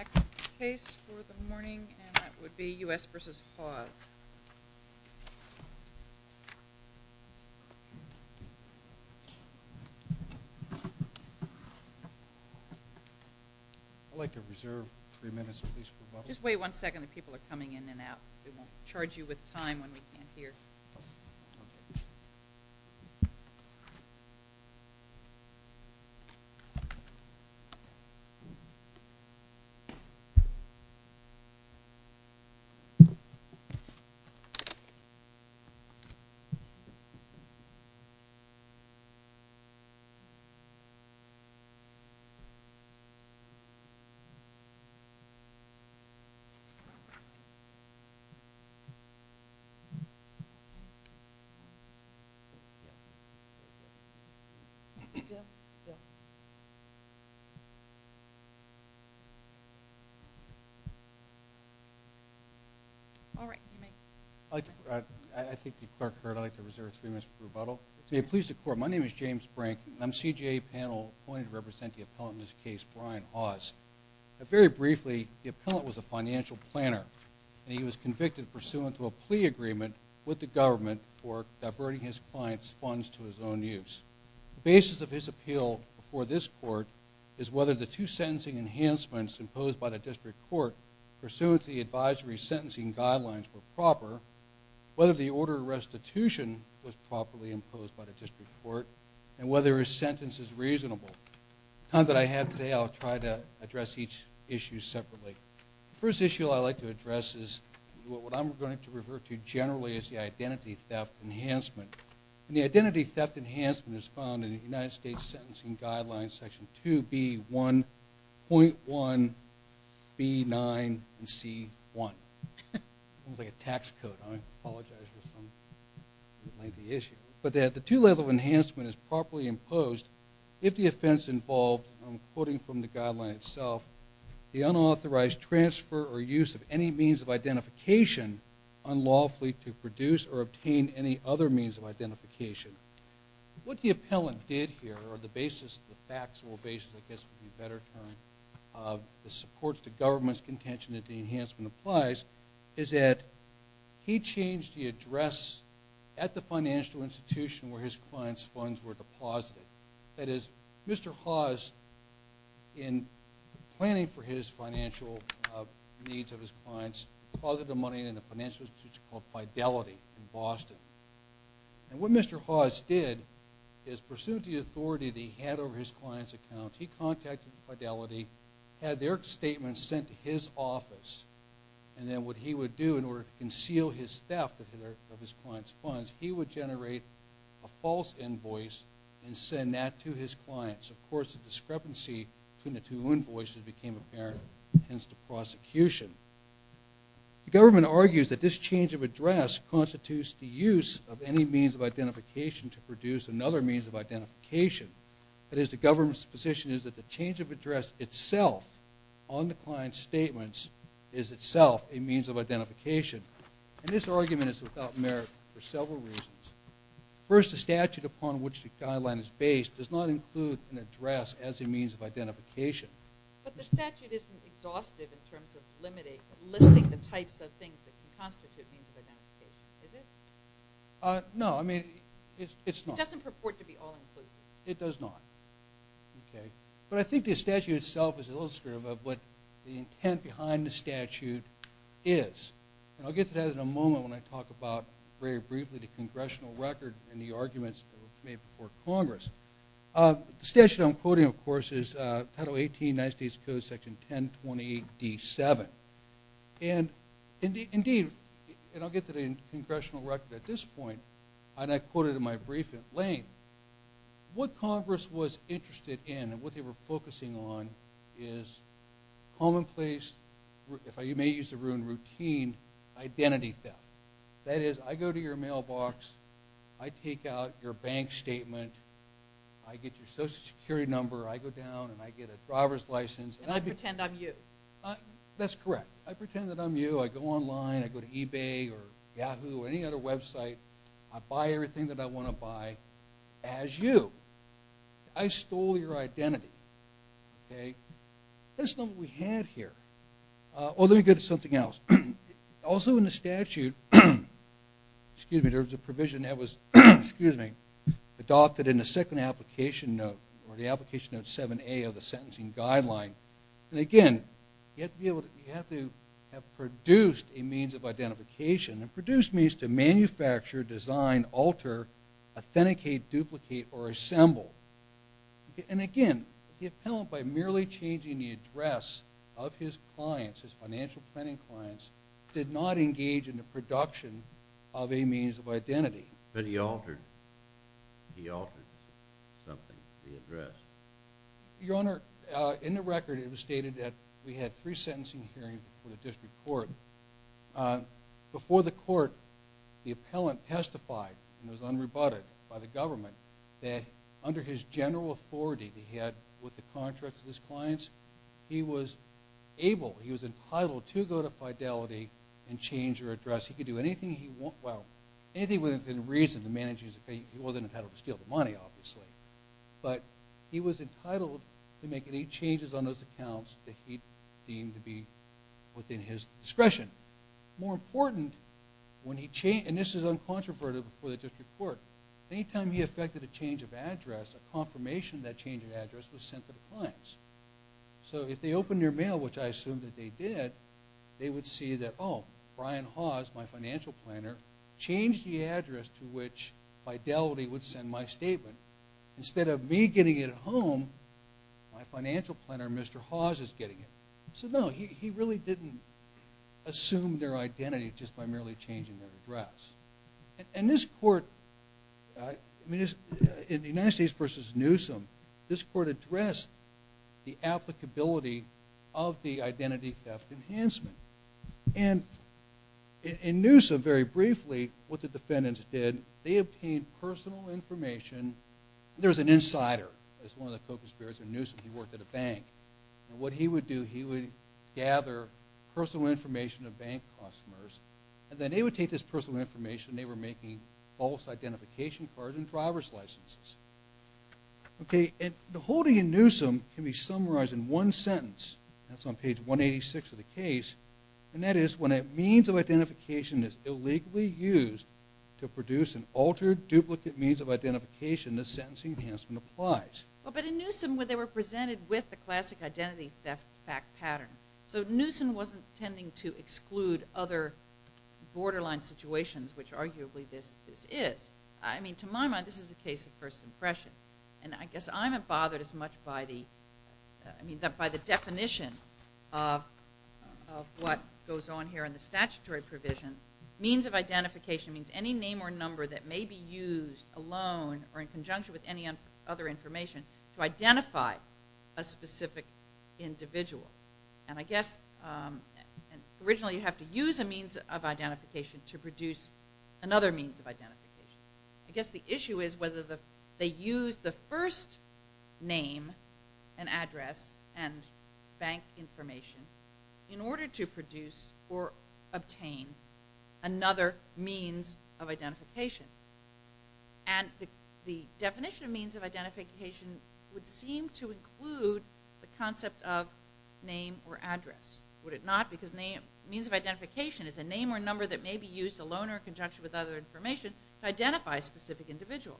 I'd like to reserve three minutes, please, for the public. We won't charge you with time when we can't hear. Thank you. All right. I think the clerk heard. I'd like to reserve three minutes for rebuttal. To me, please, the court, my name is James Brink, and I'm CJA panel appointed to represent the appellant in this case, Brian Hawes. Very briefly, the appellant was a financial planner, and he was convicted pursuant to a plea agreement with the government for diverting his client's funds to his own use. The basis of his appeal before this court is whether the two sentencing enhancements imposed by the district court pursuant to the advisory sentencing guidelines were correct. We won't charge you with time when we can't hear. Thank you. I'd like to reserve three minutes, please, for the public. I apologize for some lengthy issue, but that the two-level enhancement is properly imposed if the offense involved, I'm quoting from the guideline itself, the unauthorized transfer or use of any means of identification unlawfully to produce or obtain any other means of identification. What the appellant did here, or the basis, the factual basis, I guess would be a better term, of the support to government's contention that the enhancement applies, is that he changed the address at the financial institution where his clients' funds were deposited. That is, Mr. Hawes, in planning for his financial needs of his clients, deposited the money in a financial institution called Fidelity in Boston. And what Mr. Hawes did is, pursuing the authority that he had over his clients' accounts, he contacted Fidelity, had their statements sent to his office, and then what he would do in order to conceal his theft of his clients' funds, he would generate a false invoice and send that to his clients. Of course, the discrepancy between the two invoices became apparent, hence the prosecution. The government argues that this change of address constitutes the use of any means of identification to produce another means of identification. That is, the government's position is that the change of address itself on the client's statements is itself a means of identification. And this argument is without merit for several reasons. First, the statute upon which the guideline is based does not include an address as a means of identification. But the statute isn't exhaustive in terms of limiting the types of things that constitute means of identification, is it? No, I mean, it's not. It doesn't purport to be all-inclusive. It does not. But I think the statute itself is illustrative of what the intent behind the statute is. And I'll get to that in a moment when I talk about, very briefly, the congressional record and the arguments made before Congress. The statute I'm quoting, of course, is Title 18, United States Code, Section 1028D7. And indeed, and I'll get to the congressional record at this point, and I quote it in my brief in Blaine, what Congress was interested in and what they were focusing on is commonplace, if I may use the word routine, identity theft. That is, I go to your mailbox, I take out your bank statement, I get your Social Security number, I go down and I get a driver's license. And I pretend I'm you. That's correct. I pretend that I'm you. I go online. I go to eBay or Yahoo or any other website. I buy everything that I want to buy as you. I stole your identity. That's not what we had here. Oh, let me go to something else. Also in the statute, there was a provision that was adopted in the second application note or the application note 7A of the sentencing guideline. And, again, you have to have produced a means of identification and produced means to manufacture, design, alter, authenticate, duplicate, or assemble. And, again, the appellant, by merely changing the address of his clients, his financial planning clients, did not engage in the production of a means of identity. But he altered something to the address. Your Honor, in the record it was stated that we had three sentencing hearings before the district court. Before the court, the appellant testified and was unrebutted by the government that under his general authority that he had with the contracts of his clients, he was able, he was entitled to go to Fidelity and change their address. He could do anything he wanted. Well, anything within reason to manage his account. He wasn't entitled to steal the money, obviously. But he was entitled to make any changes on those accounts that he deemed to be within his discretion. More important, when he changed, and this is uncontroverted before the district court, any time he affected a change of address, a confirmation of that change of address was sent to the clients. So if they opened your mail, which I assume that they did, they would see that, oh, Brian Hawes, my financial planner, changed the address to which Fidelity would send my statement. Instead of me getting it at home, my financial planner, Mr. Hawes, is getting it. So no, he really didn't assume their identity just by merely changing their address. And this court, in the United States versus Newsom, this court addressed the applicability of the identity theft enhancement. And in Newsom, very briefly, what the defendants did, they obtained personal information. There was an insider that was one of the co-conspirators in Newsom. He worked at a bank. And what he would do, he would gather personal information of bank customers, and then they would take this personal information, and they were making false identification cards and driver's licenses. Okay, and the holding in Newsom can be summarized in one sentence. That's on page 186 of the case. And that is, when a means of identification is illegally used to produce an altered duplicate means of identification, the sentencing enhancement applies. But in Newsom, they were presented with the classic identity theft fact pattern. So Newsom wasn't intending to exclude other borderline situations, which arguably this is. I mean, to my mind, this is a case of first impression. And I guess I haven't bothered as much by the definition of what goes on here in the statutory provision. Means of identification means any name or number that may be used alone or in conjunction with any other information to identify a specific individual. And I guess originally you have to use a means of identification to produce another means of identification. I guess the issue is whether they use the first name and address and bank information in order to produce or obtain another means of identification. And the definition of means of identification would seem to include the concept of name or address. Would it not? Because means of identification is a name or number that may be used alone or in conjunction with other information to identify a specific individual.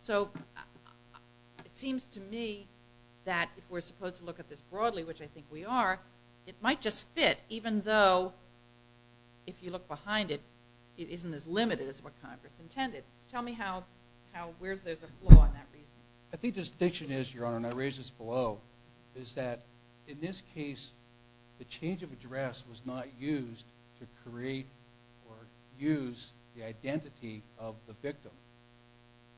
So it seems to me that if we're supposed to look at this broadly, which I think we are, it might just fit, even though if you look behind it, it isn't as limited as what Congress intended. Tell me where there's a flaw in that reasoning. I think the distinction is, Your Honor, and I raise this below, is that in this case the change of address was not used to create or use the identity of the victim.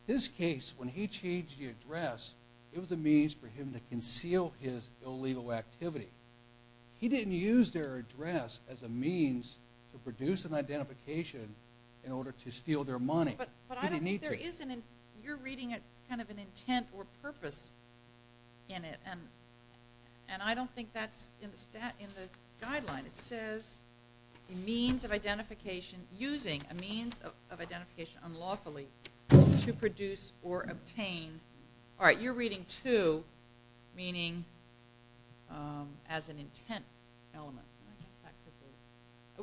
This case, when he changed the address, it was a means for him to conceal his illegal activity. He didn't use their address as a means to produce an identification in order to steal their money. He didn't need to. But you're reading kind of an intent or purpose in it, and I don't think that's in the guideline. It says a means of identification, using a means of identification unlawfully to produce or obtain. All right. You're reading to, meaning as an intent element.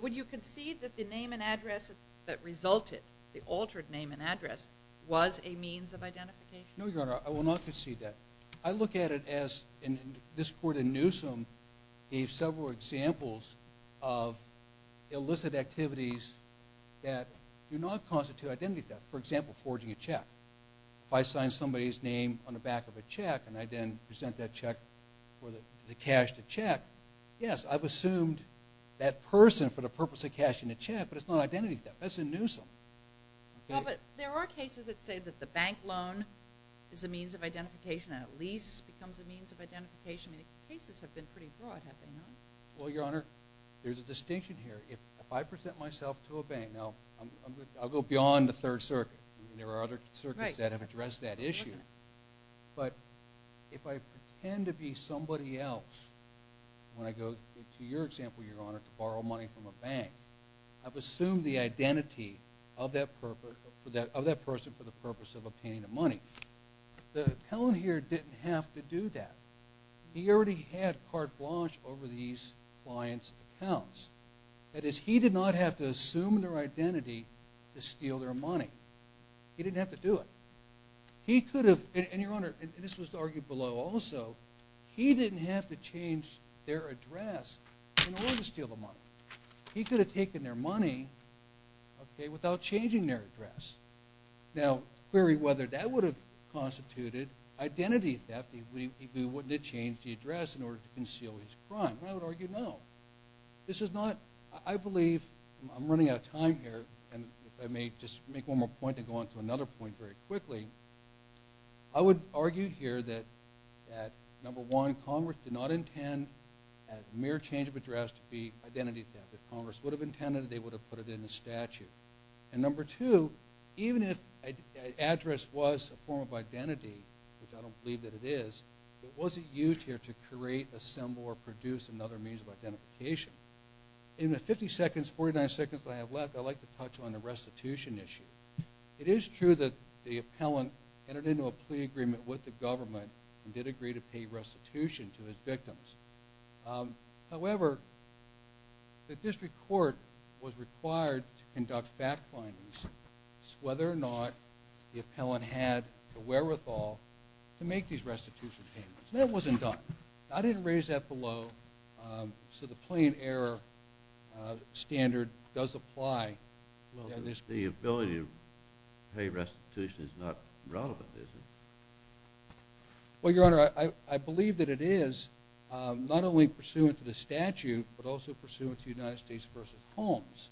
Would you concede that the name and address that resulted, the altered name and address, was a means of identification? No, Your Honor. I will not concede that. I look at it as this court in Newsom gave several examples of illicit activities that do not constitute identity theft, for example, forging a check. If I sign somebody's name on the back of a check and I then present that check for the cash to check, yes, I've assumed that person for the purpose of cashing the check, but it's not identity theft. That's in Newsom. Well, but there are cases that say that the bank loan is a means of identification and a lease becomes a means of identification, and the cases have been pretty broad, have they not? Well, Your Honor, there's a distinction here. If I present myself to a bank, now, I'll go beyond the Third Circuit. There are other circuits that have addressed that issue, but if I pretend to be somebody else, when I go to your example, Your Honor, to borrow money from a bank, I've assumed the identity of that person for the purpose of obtaining the money. The appellant here didn't have to do that. He already had carte blanche over these client's accounts. That is, he did not have to assume their identity to steal their money. He didn't have to do it. He could have, and Your Honor, and this was argued below also, he didn't have to change their address in order to steal the money. He could have taken their money without changing their address. Now, query whether that would have constituted identity theft if he wouldn't have changed the address in order to conceal his crime. I would argue no. I believe I'm running out of time here, and if I may just make one more point and go on to another point very quickly. I would argue here that, number one, Congress did not intend a mere change of address to be identity theft. If Congress would have intended it, they would have put it in the statute. And number two, even if an address was a form of identity, which I don't believe that it is, it wasn't used here to create, assemble, or produce another means of identification. In the 50 seconds, 49 seconds that I have left, I'd like to touch on the restitution issue. It is true that the appellant entered into a plea agreement with the government and did agree to pay restitution to his victims. However, the district court was required to conduct fact findings as to whether or not the appellant had the wherewithal to make these restitution payments. That wasn't done. I didn't raise that below, so the plain error standard does apply. The ability to pay restitution is not relevant, is it? Well, Your Honor, I believe that it is, not only pursuant to the statute, but also pursuant to United States v. Holmes.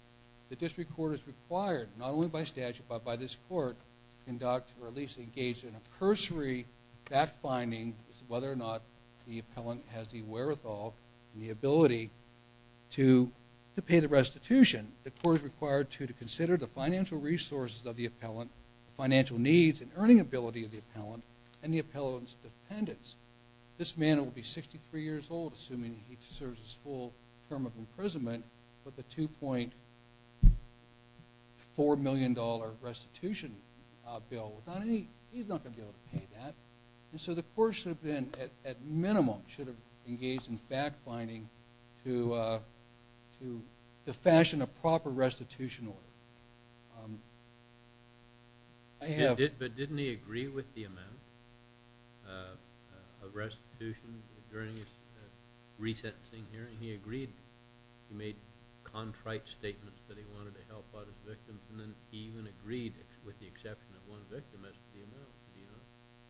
The district court is required, not only by statute, but by this court, to conduct or at least engage in a cursory fact finding as to whether or not the appellant has the wherewithal and the ability to pay the restitution. The court is required to consider the financial resources of the appellant, the financial needs and earning ability of the appellant, and the appellant's dependents. This man will be 63 years old, assuming he deserves his full term of imprisonment, but the $2.4 million restitution bill, he's not going to be able to pay that. And so the court should have been, at minimum, should have engaged in fact finding to fashion a proper restitution order. But didn't he agree with the amount of restitution during his recent hearing? He agreed. He made contrite statements that he wanted to help out his victims, and then he even agreed with the exception of one victim as to the amount.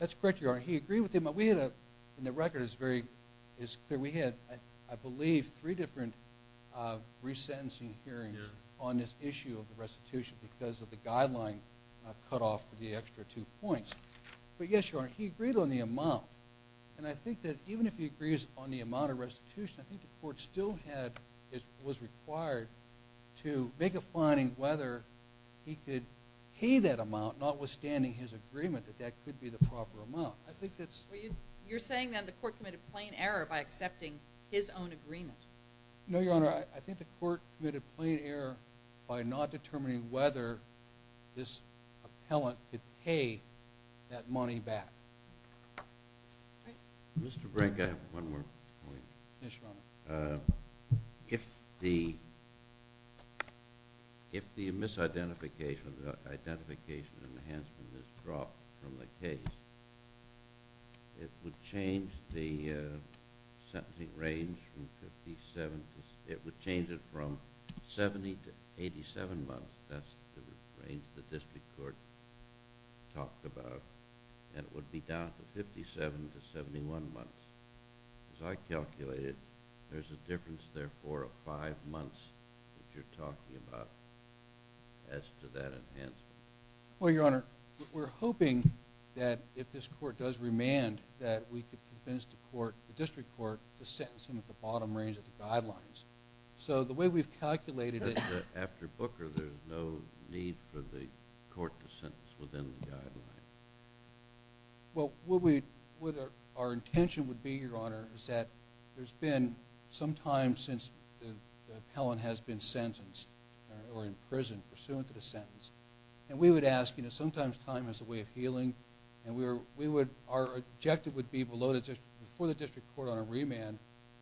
That's correct, Your Honor. He agreed with the amount. We had, and the record is very clear, we had, I believe, three different resentencing hearings on this issue of the restitution because of the guideline cut off for the extra two points. But yes, Your Honor, he agreed on the amount, and I think that even if he agrees on the amount of restitution, I think the court still was required to make a finding whether he could pay that amount, notwithstanding his agreement that that could be the proper amount. You're saying, then, the court committed plain error by accepting his own agreement. No, Your Honor, I think the court committed plain error by not determining whether this appellant could pay that money back. Mr. Brink, I have one more point. Yes, Your Honor. If the misidentification or the identification enhancement is dropped from the case, it would change the sentencing range from 57—it would change it from 70 to 87 months. That's the range the district court talked about, and it would be down to 57 to 71 months. As I calculated, there's a difference, therefore, of five months, which you're talking about, as to that enhancement. Well, Your Honor, we're hoping that if this court does remand, that we could convince the district court to sentence him at the bottom range of the guidelines. So the way we've calculated it— After Booker, there's no need for the court to sentence within the guidelines. Well, what our intention would be, Your Honor, is that there's been some time since the appellant has been sentenced or in prison pursuant to the sentence, and we would ask—sometimes time is a way of healing, and our objective would be before the district court on a remand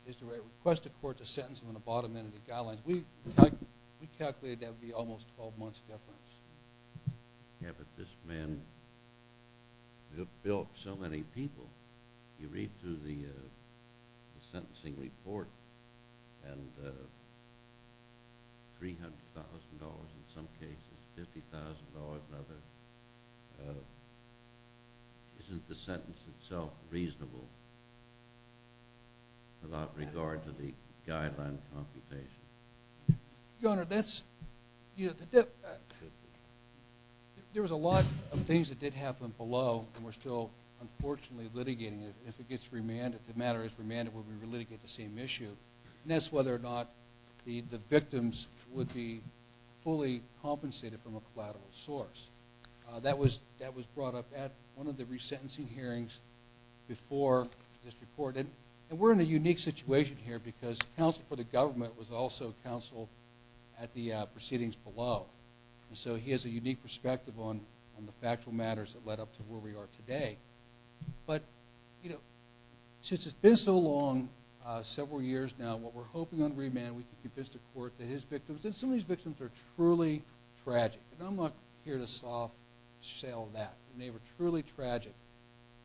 is to request the court to sentence him on the bottom end of the guidelines. We calculated that would be almost a 12-month difference. Yeah, but this man built so many people. You read through the sentencing report, and $300,000 in some cases, $50,000 in others. Isn't the sentence itself reasonable without regard to the guidelines computation? Your Honor, there was a lot of things that did happen below, and we're still, unfortunately, litigating it. If it gets remanded, if the matter is remanded, we'll re-litigate the same issue, and that's whether or not the victims would be fully compensated from a collateral source. That was brought up at one of the resentencing hearings before the district court, and we're in a unique situation here because counsel for the government was also counsel at the proceedings below, and so he has a unique perspective on the factual matters that led up to where we are today. But since it's been so long, several years now, what we're hoping on remand, we can convince the court that his victims— and some of these victims are truly tragic, and I'm not here to sell that, and they were truly tragic.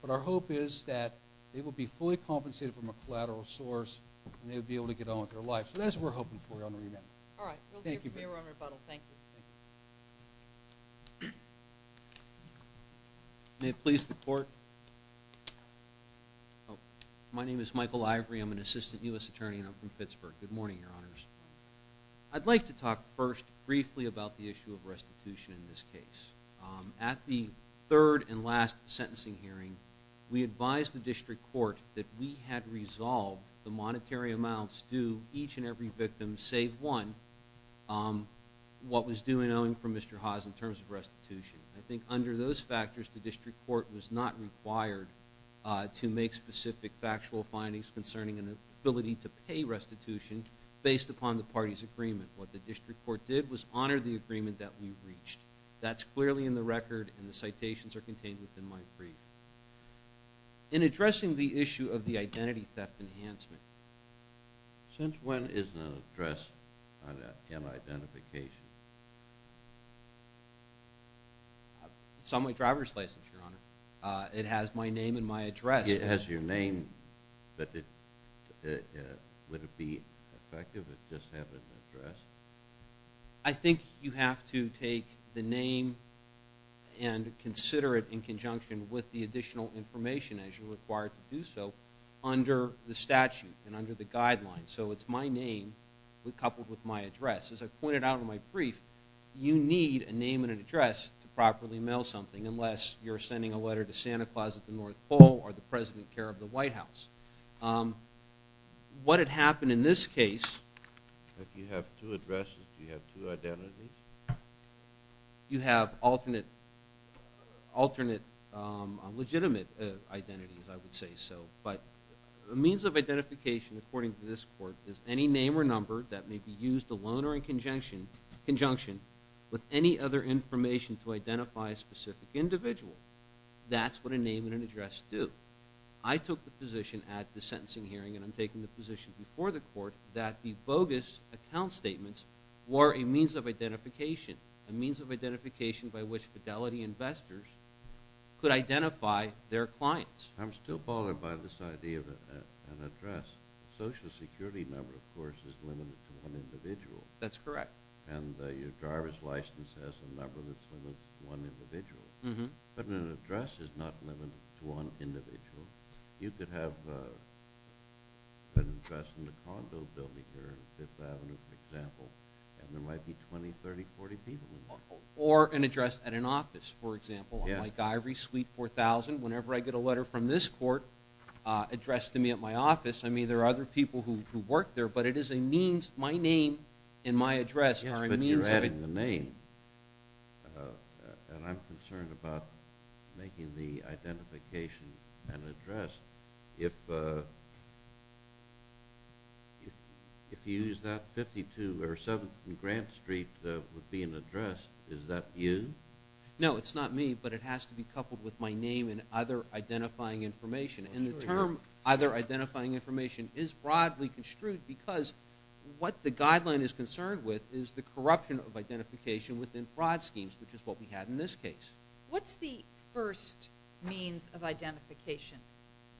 But our hope is that they will be fully compensated from a collateral source, and they will be able to get on with their life. So that's what we're hoping for on remand. All right. We'll give you a rebuttal. Thank you. May it please the court? My name is Michael Ivory. I'm an assistant U.S. attorney, and I'm from Pittsburgh. Good morning, Your Honors. I'd like to talk first briefly about the issue of restitution in this case. At the third and last sentencing hearing, we advised the district court that we had resolved the monetary amounts due each and every victim, save one, what was due and owing from Mr. Haas in terms of restitution. I think under those factors, the district court was not required to make specific factual findings concerning an ability to pay restitution based upon the party's agreement. What the district court did was honor the agreement that we reached. That's clearly in the record, and the citations are contained within my brief. In addressing the issue of the identity theft enhancement. Since when is an address on an identification? It's on my driver's license, Your Honor. It has my name and my address. It has your name, but would it be effective if it just had an address? I think you have to take the name and consider it in conjunction with the additional information as you're required to do so under the statute and under the guidelines. So it's my name coupled with my address. As I pointed out in my brief, you need a name and an address to properly mail something unless you're sending a letter to Santa Claus at the North Pole or the President of the White House. What had happened in this case... If you have two addresses, do you have two identities? You have alternate legitimate identities, I would say so. But the means of identification, according to this court, is any name or number that may be used alone or in conjunction with any other information to identify a specific individual. That's what a name and an address do. I took the position at the sentencing hearing, and I'm taking the position before the court, that the bogus account statements were a means of identification, a means of identification by which fidelity investors could identify their clients. I'm still bothered by this idea of an address. A Social Security number, of course, is limited to one individual. That's correct. And your driver's license has a number that's limited to one individual. But an address is not limited to one individual. You could have an address in the condo building here on 5th Avenue, for example, and there might be 20, 30, 40 people in there. Or an address at an office, for example, on my diary, suite 4000. Whenever I get a letter from this court addressed to me at my office, there are other people who work there, but it is a means. My name and my address are a means of identification. And I'm concerned about making the identification an address. If you use that, 52 or 7th and Grant Street would be an address. Is that you? No, it's not me, but it has to be coupled with my name and other identifying information. And the term other identifying information is broadly construed because what the guideline is concerned with is the corruption of identification within fraud schemes, which is what we had in this case. What's the first means of identification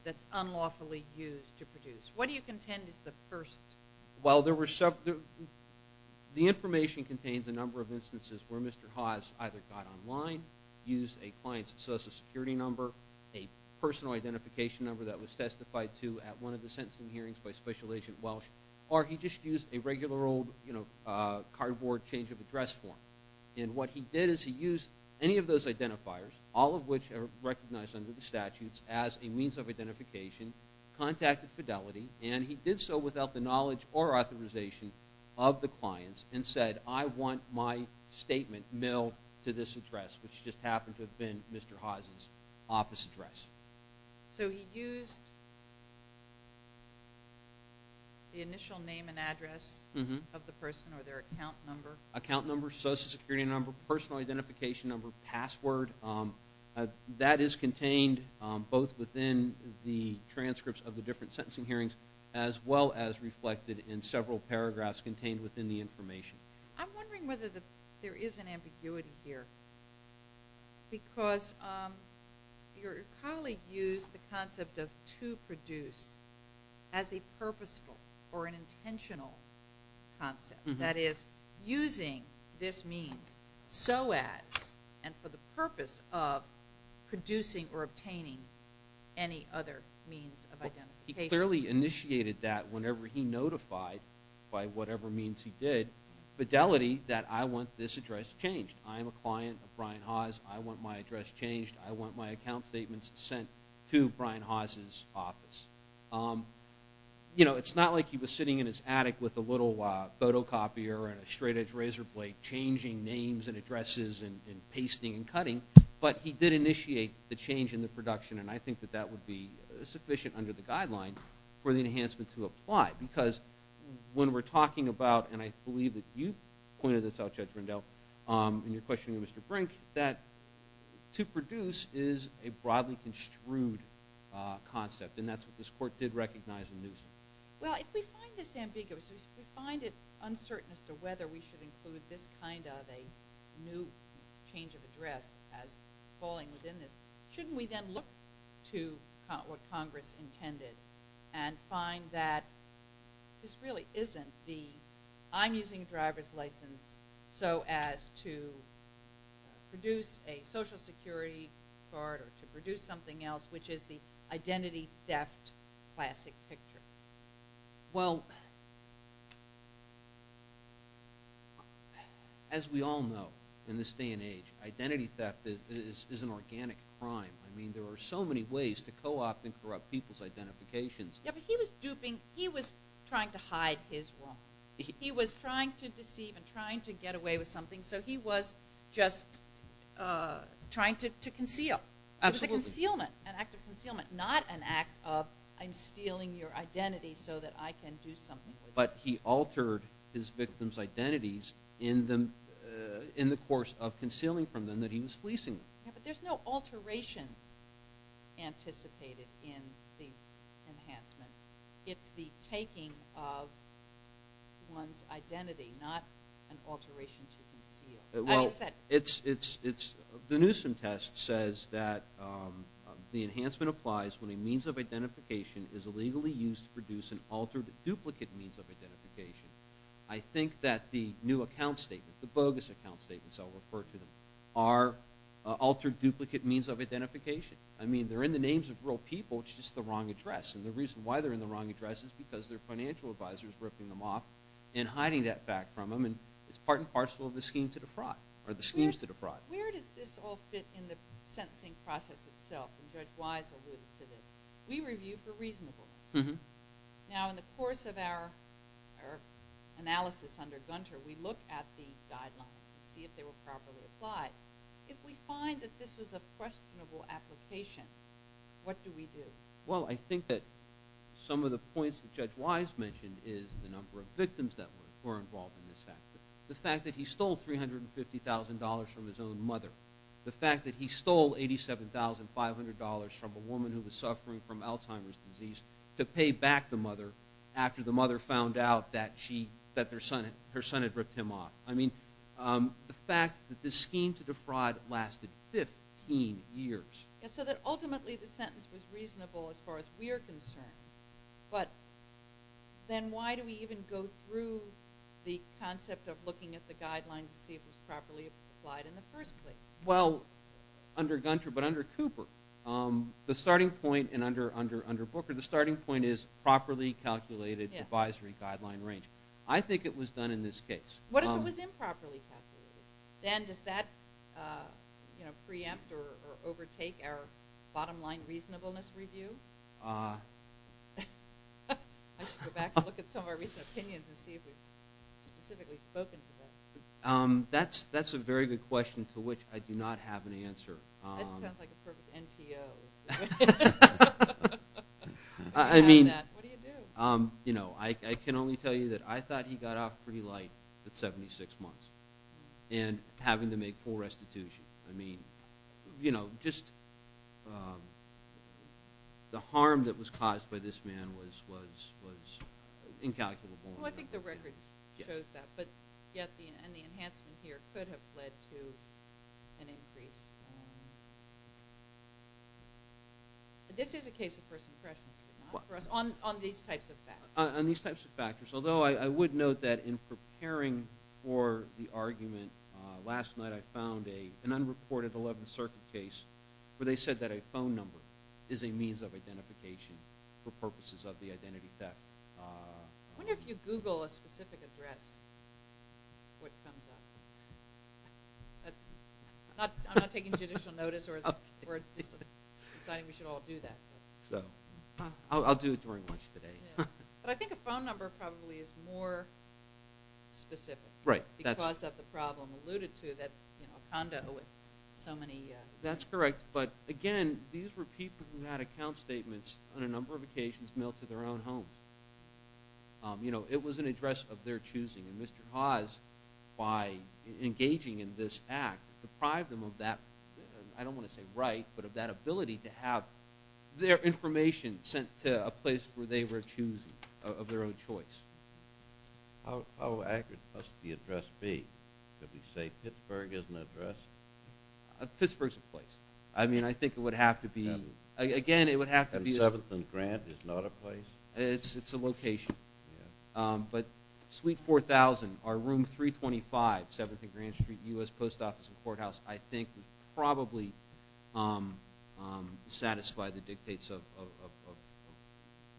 that's unlawfully used to produce? What do you contend is the first? Well, the information contains a number of instances where Mr. Haas either got online, used a client's social security number, a personal identification number that was testified to at one of the sentencing hearings by Special Agent Welsh, or he just used a regular old cardboard change of address form. And what he did is he used any of those identifiers, all of which are recognized under the statutes as a means of identification, contacted Fidelity, and he did so without the knowledge or authorization of the clients and said, I want my statement mailed to this address, which just happened to have been Mr. Haas's office address. So he used the initial name and address of the person or their account number? Account number, social security number, personal identification number, password. That is contained both within the transcripts of the different sentencing hearings as well as reflected in several paragraphs contained within the information. I'm wondering whether there is an ambiguity here because your colleague used the concept of to produce as a purposeful or an intentional concept, that is using this means so as and for the purpose of producing or obtaining any other means of identification. He clearly initiated that whenever he notified by whatever means he did. Fidelity, that I want this address changed. I am a client of Brian Haas. I want my address changed. I want my account statements sent to Brian Haas's office. It's not like he was sitting in his attic with a little photocopier and a straight-edge razor blade changing names and addresses and pasting and cutting, but he did initiate the change in the production, and I think that that would be sufficient under the guideline for the enhancement to apply because when we're talking about, and I believe that you pointed this out, Judge Rendell, in your question to Mr. Brink, that to produce is a broadly construed concept, and that's what this Court did recognize in Newsom. Well, if we find this ambiguous, if we find it uncertain as to whether we should include this kind of a new change of address as falling within this, shouldn't we then look to what Congress intended and find that this really isn't the I'm using a driver's license so as to produce a Social Security card or to produce something else, which is the identity theft classic picture? Well, as we all know in this day and age, identity theft is an organic crime. I mean there are so many ways to co-opt and corrupt people's identifications. Yeah, but he was duping. He was trying to hide his woman. He was trying to deceive and trying to get away with something, so he was just trying to conceal. Absolutely. It was a concealment, an act of concealment, not an act of I'm stealing your identity so that I can do something with it. But he altered his victims' identities in the course of concealing from them that he was fleecing them. Yeah, but there's no alteration anticipated in the enhancement. It's the taking of one's identity, not an alteration to conceal. Well, the Newsom test says that the enhancement applies when a means of identification is illegally used to produce an altered duplicate means of identification. I think that the new account statement, the bogus account statements, I'll refer to them, are altered duplicate means of identification. I mean they're in the names of real people. It's just the wrong address. And the reason why they're in the wrong address is because their financial advisor is ripping them off and hiding that back from them, and it's part and parcel of the scheme to defraud, or the schemes to defraud. Where does this all fit in the sentencing process itself? And Judge Wise alluded to this. We review for reasonableness. Now, in the course of our analysis under Gunter, we look at the guidelines to see if they were properly applied. If we find that this was a questionable application, what do we do? Well, I think that some of the points that Judge Wise mentioned is the number of victims that were involved in this factor. The fact that he stole $350,000 from his own mother. The fact that he stole $87,500 from a woman who was suffering from Alzheimer's disease to pay back the mother after the mother found out that her son had ripped him off. I mean, the fact that this scheme to defraud lasted 15 years. So that ultimately the sentence was reasonable as far as we're concerned, but then why do we even go through the concept of looking at the guidelines to see if it was properly applied in the first place? Well, under Gunter, but under Cooper, the starting point, and under Booker, the starting point is properly calculated advisory guideline range. I think it was done in this case. What if it was improperly calculated? Then does that preempt or overtake our bottom line reasonableness review? I should go back and look at some of our recent opinions and see if we've specifically spoken to that. That's a very good question to which I do not have an answer. That sounds like a perfect NPO. I mean, I can only tell you that I thought he got off pretty light at 76 months. And having to make full restitution. I mean, you know, just the harm that was caused by this man was incalculable. Well, I think the record shows that, but yet the enhancement here could have led to an increase. This is a case of first impressions, not for us, on these types of factors. On these types of factors. Although I would note that in preparing for the argument, last night I found an unreported 11th Circuit case where they said that a phone number is a means of identification for purposes of the identity theft. I wonder if you Google a specific address, what comes up. I'm not taking judicial notice or deciding we should all do that. I'll do it during lunch today. But I think a phone number probably is more specific. Right. Because of the problem alluded to, that a condo with so many. That's correct. But, again, these were people who had account statements on a number of occasions mailed to their own homes. You know, it was an address of their choosing. And Mr. Hawes, by engaging in this act, deprived them of that, I don't want to say right, but of that ability to have their information sent to a place where they were choosing, of their own choice. How accurate must the address be? Could we say Pittsburgh is an address? Pittsburgh's a place. I mean, I think it would have to be. Again, it would have to be. And 7th and Grant is not a place? It's a location. But Suite 4000, or Room 325, 7th and Grant Street, U.S. Post Office and Courthouse, I think would probably satisfy the dictates of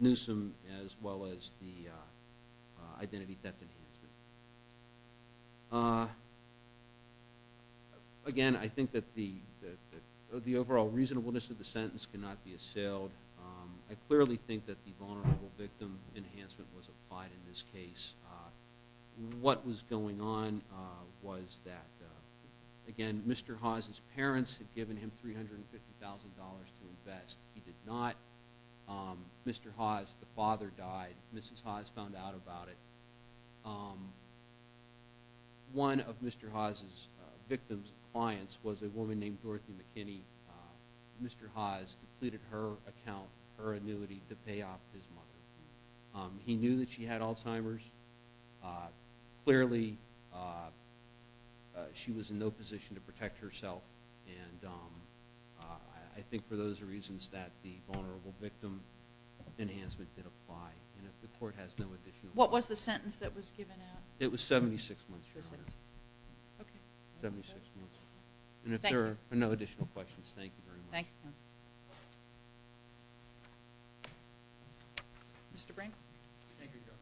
Newsom as well as the identity theft. Again, I think that the overall reasonableness of the sentence cannot be assailed. I clearly think that the vulnerable victim enhancement was applied in this case. What was going on was that, again, Mr. Hawes' parents had given him $350,000 to invest. He did not. Mr. Hawes' father died. Mrs. Hawes found out about it. One of Mr. Hawes' victim's clients was a woman named Dorothy McKinney. Mr. Hawes depleted her account, her annuity, to pay off his mother. He knew that she had Alzheimer's. Clearly, she was in no position to protect herself, and I think for those reasons that the vulnerable victim enhancement did apply. And if the court has no additional questions. What was the sentence that was given out? It was 76 months. 76 months. And if there are no additional questions, thank you very much. Thank you. Mr. Brink. Thank you, Judge.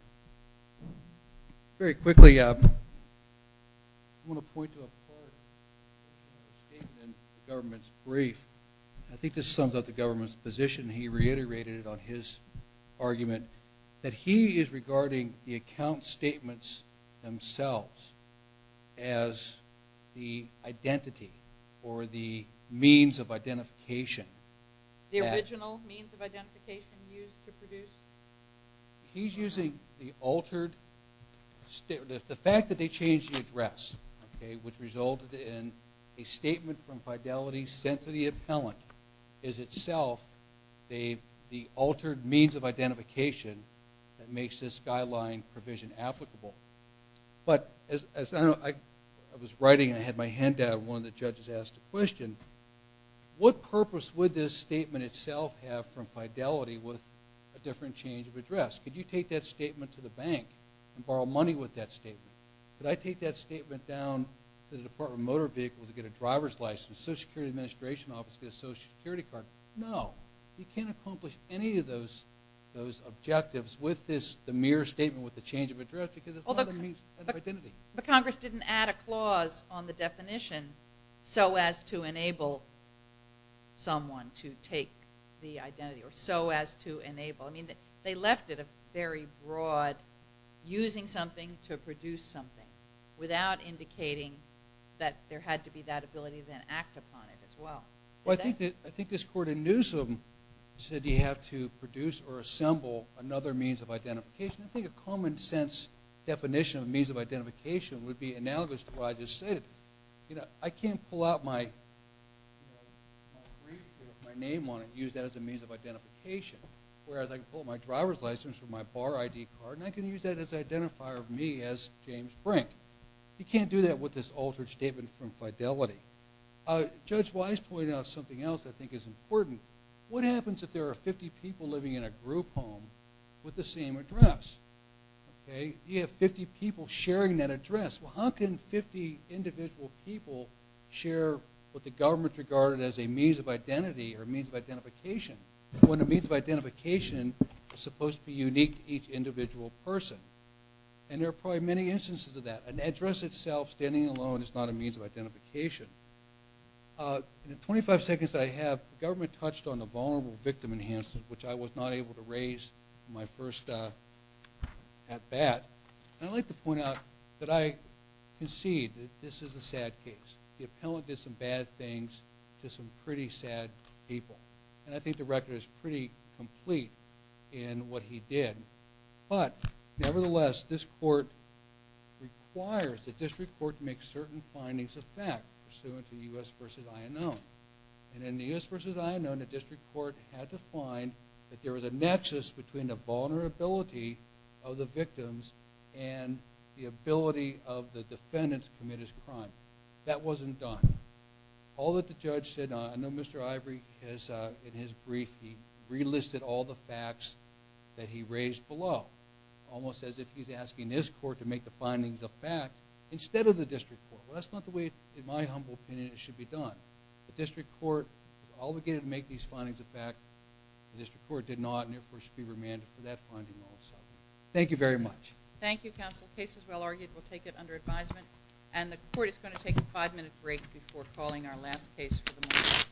Very quickly, I want to point to a part of the statement in the government's brief. I think this sums up the government's position. He reiterated it on his argument that he is regarding the account statements themselves as the identity or the means of identification. The original means of identification used to produce? He's using the altered statement. The fact that they changed the address, okay, which resulted in a statement from Fidelity sent to the appellant, is itself the altered means of identification that makes this guideline provision applicable. But as I was writing and I had my hand down, one of the judges asked a question, what purpose would this statement itself have from Fidelity with a different change of address? Could you take that statement to the bank and borrow money with that statement? Could I take that statement down to the Department of Motor Vehicles to get a driver's license, Social Security Administration office to get a Social Security card? No. You can't accomplish any of those objectives with the mere statement with the change of address because it's not the means of identity. But Congress didn't add a clause on the definition so as to enable someone to take the identity or so as to enable. They left it a very broad using something to produce something without indicating that there had to be that ability to then act upon it as well. Well, I think this court in Newsom said you have to produce or assemble another means of identification. I think a common sense definition of means of identification would be analogous to what I just said. I can't pull out my name on it and use that as a means of identification, whereas I can pull out my driver's license or my bar ID card and I can use that as an identifier of me as James Frank. You can't do that with this altered statement from Fidelity. Judge Wise pointed out something else that I think is important. What happens if there are 50 people living in a group home with the same address? You have 50 people sharing that address. Well, how can 50 individual people share what the government regarded as a means of identity or a means of identification when a means of identification is supposed to be unique to each individual person? And there are probably many instances of that. An address itself, standing alone, is not a means of identification. In the 25 seconds that I have, the government touched on the vulnerable victim enhancement, which I was not able to raise in my first at-bat. I'd like to point out that I concede that this is a sad case. The appellant did some bad things to some pretty sad people. And I think the record is pretty complete in what he did. But, nevertheless, this court requires the district court to make certain findings of fact, pursuant to the U.S. v. INO. And in the U.S. v. INO, the district court had to find that there was a nexus between the vulnerability of the victims and the ability of the defendant to commit his crime. That wasn't done. All that the judge said, and I know Mr. Ivory, in his brief, he relisted all the facts that he raised below, almost as if he's asking his court to make the findings of fact instead of the district court. Well, that's not the way, in my humble opinion, it should be done. The district court is obligated to make these findings of fact. The district court did not, and therefore should be remanded for that finding also. Thank you very much. Thank you, counsel. The case is well argued. We'll take it under advisement. And the court is going to take a 5-minute break before calling our last case for the morning.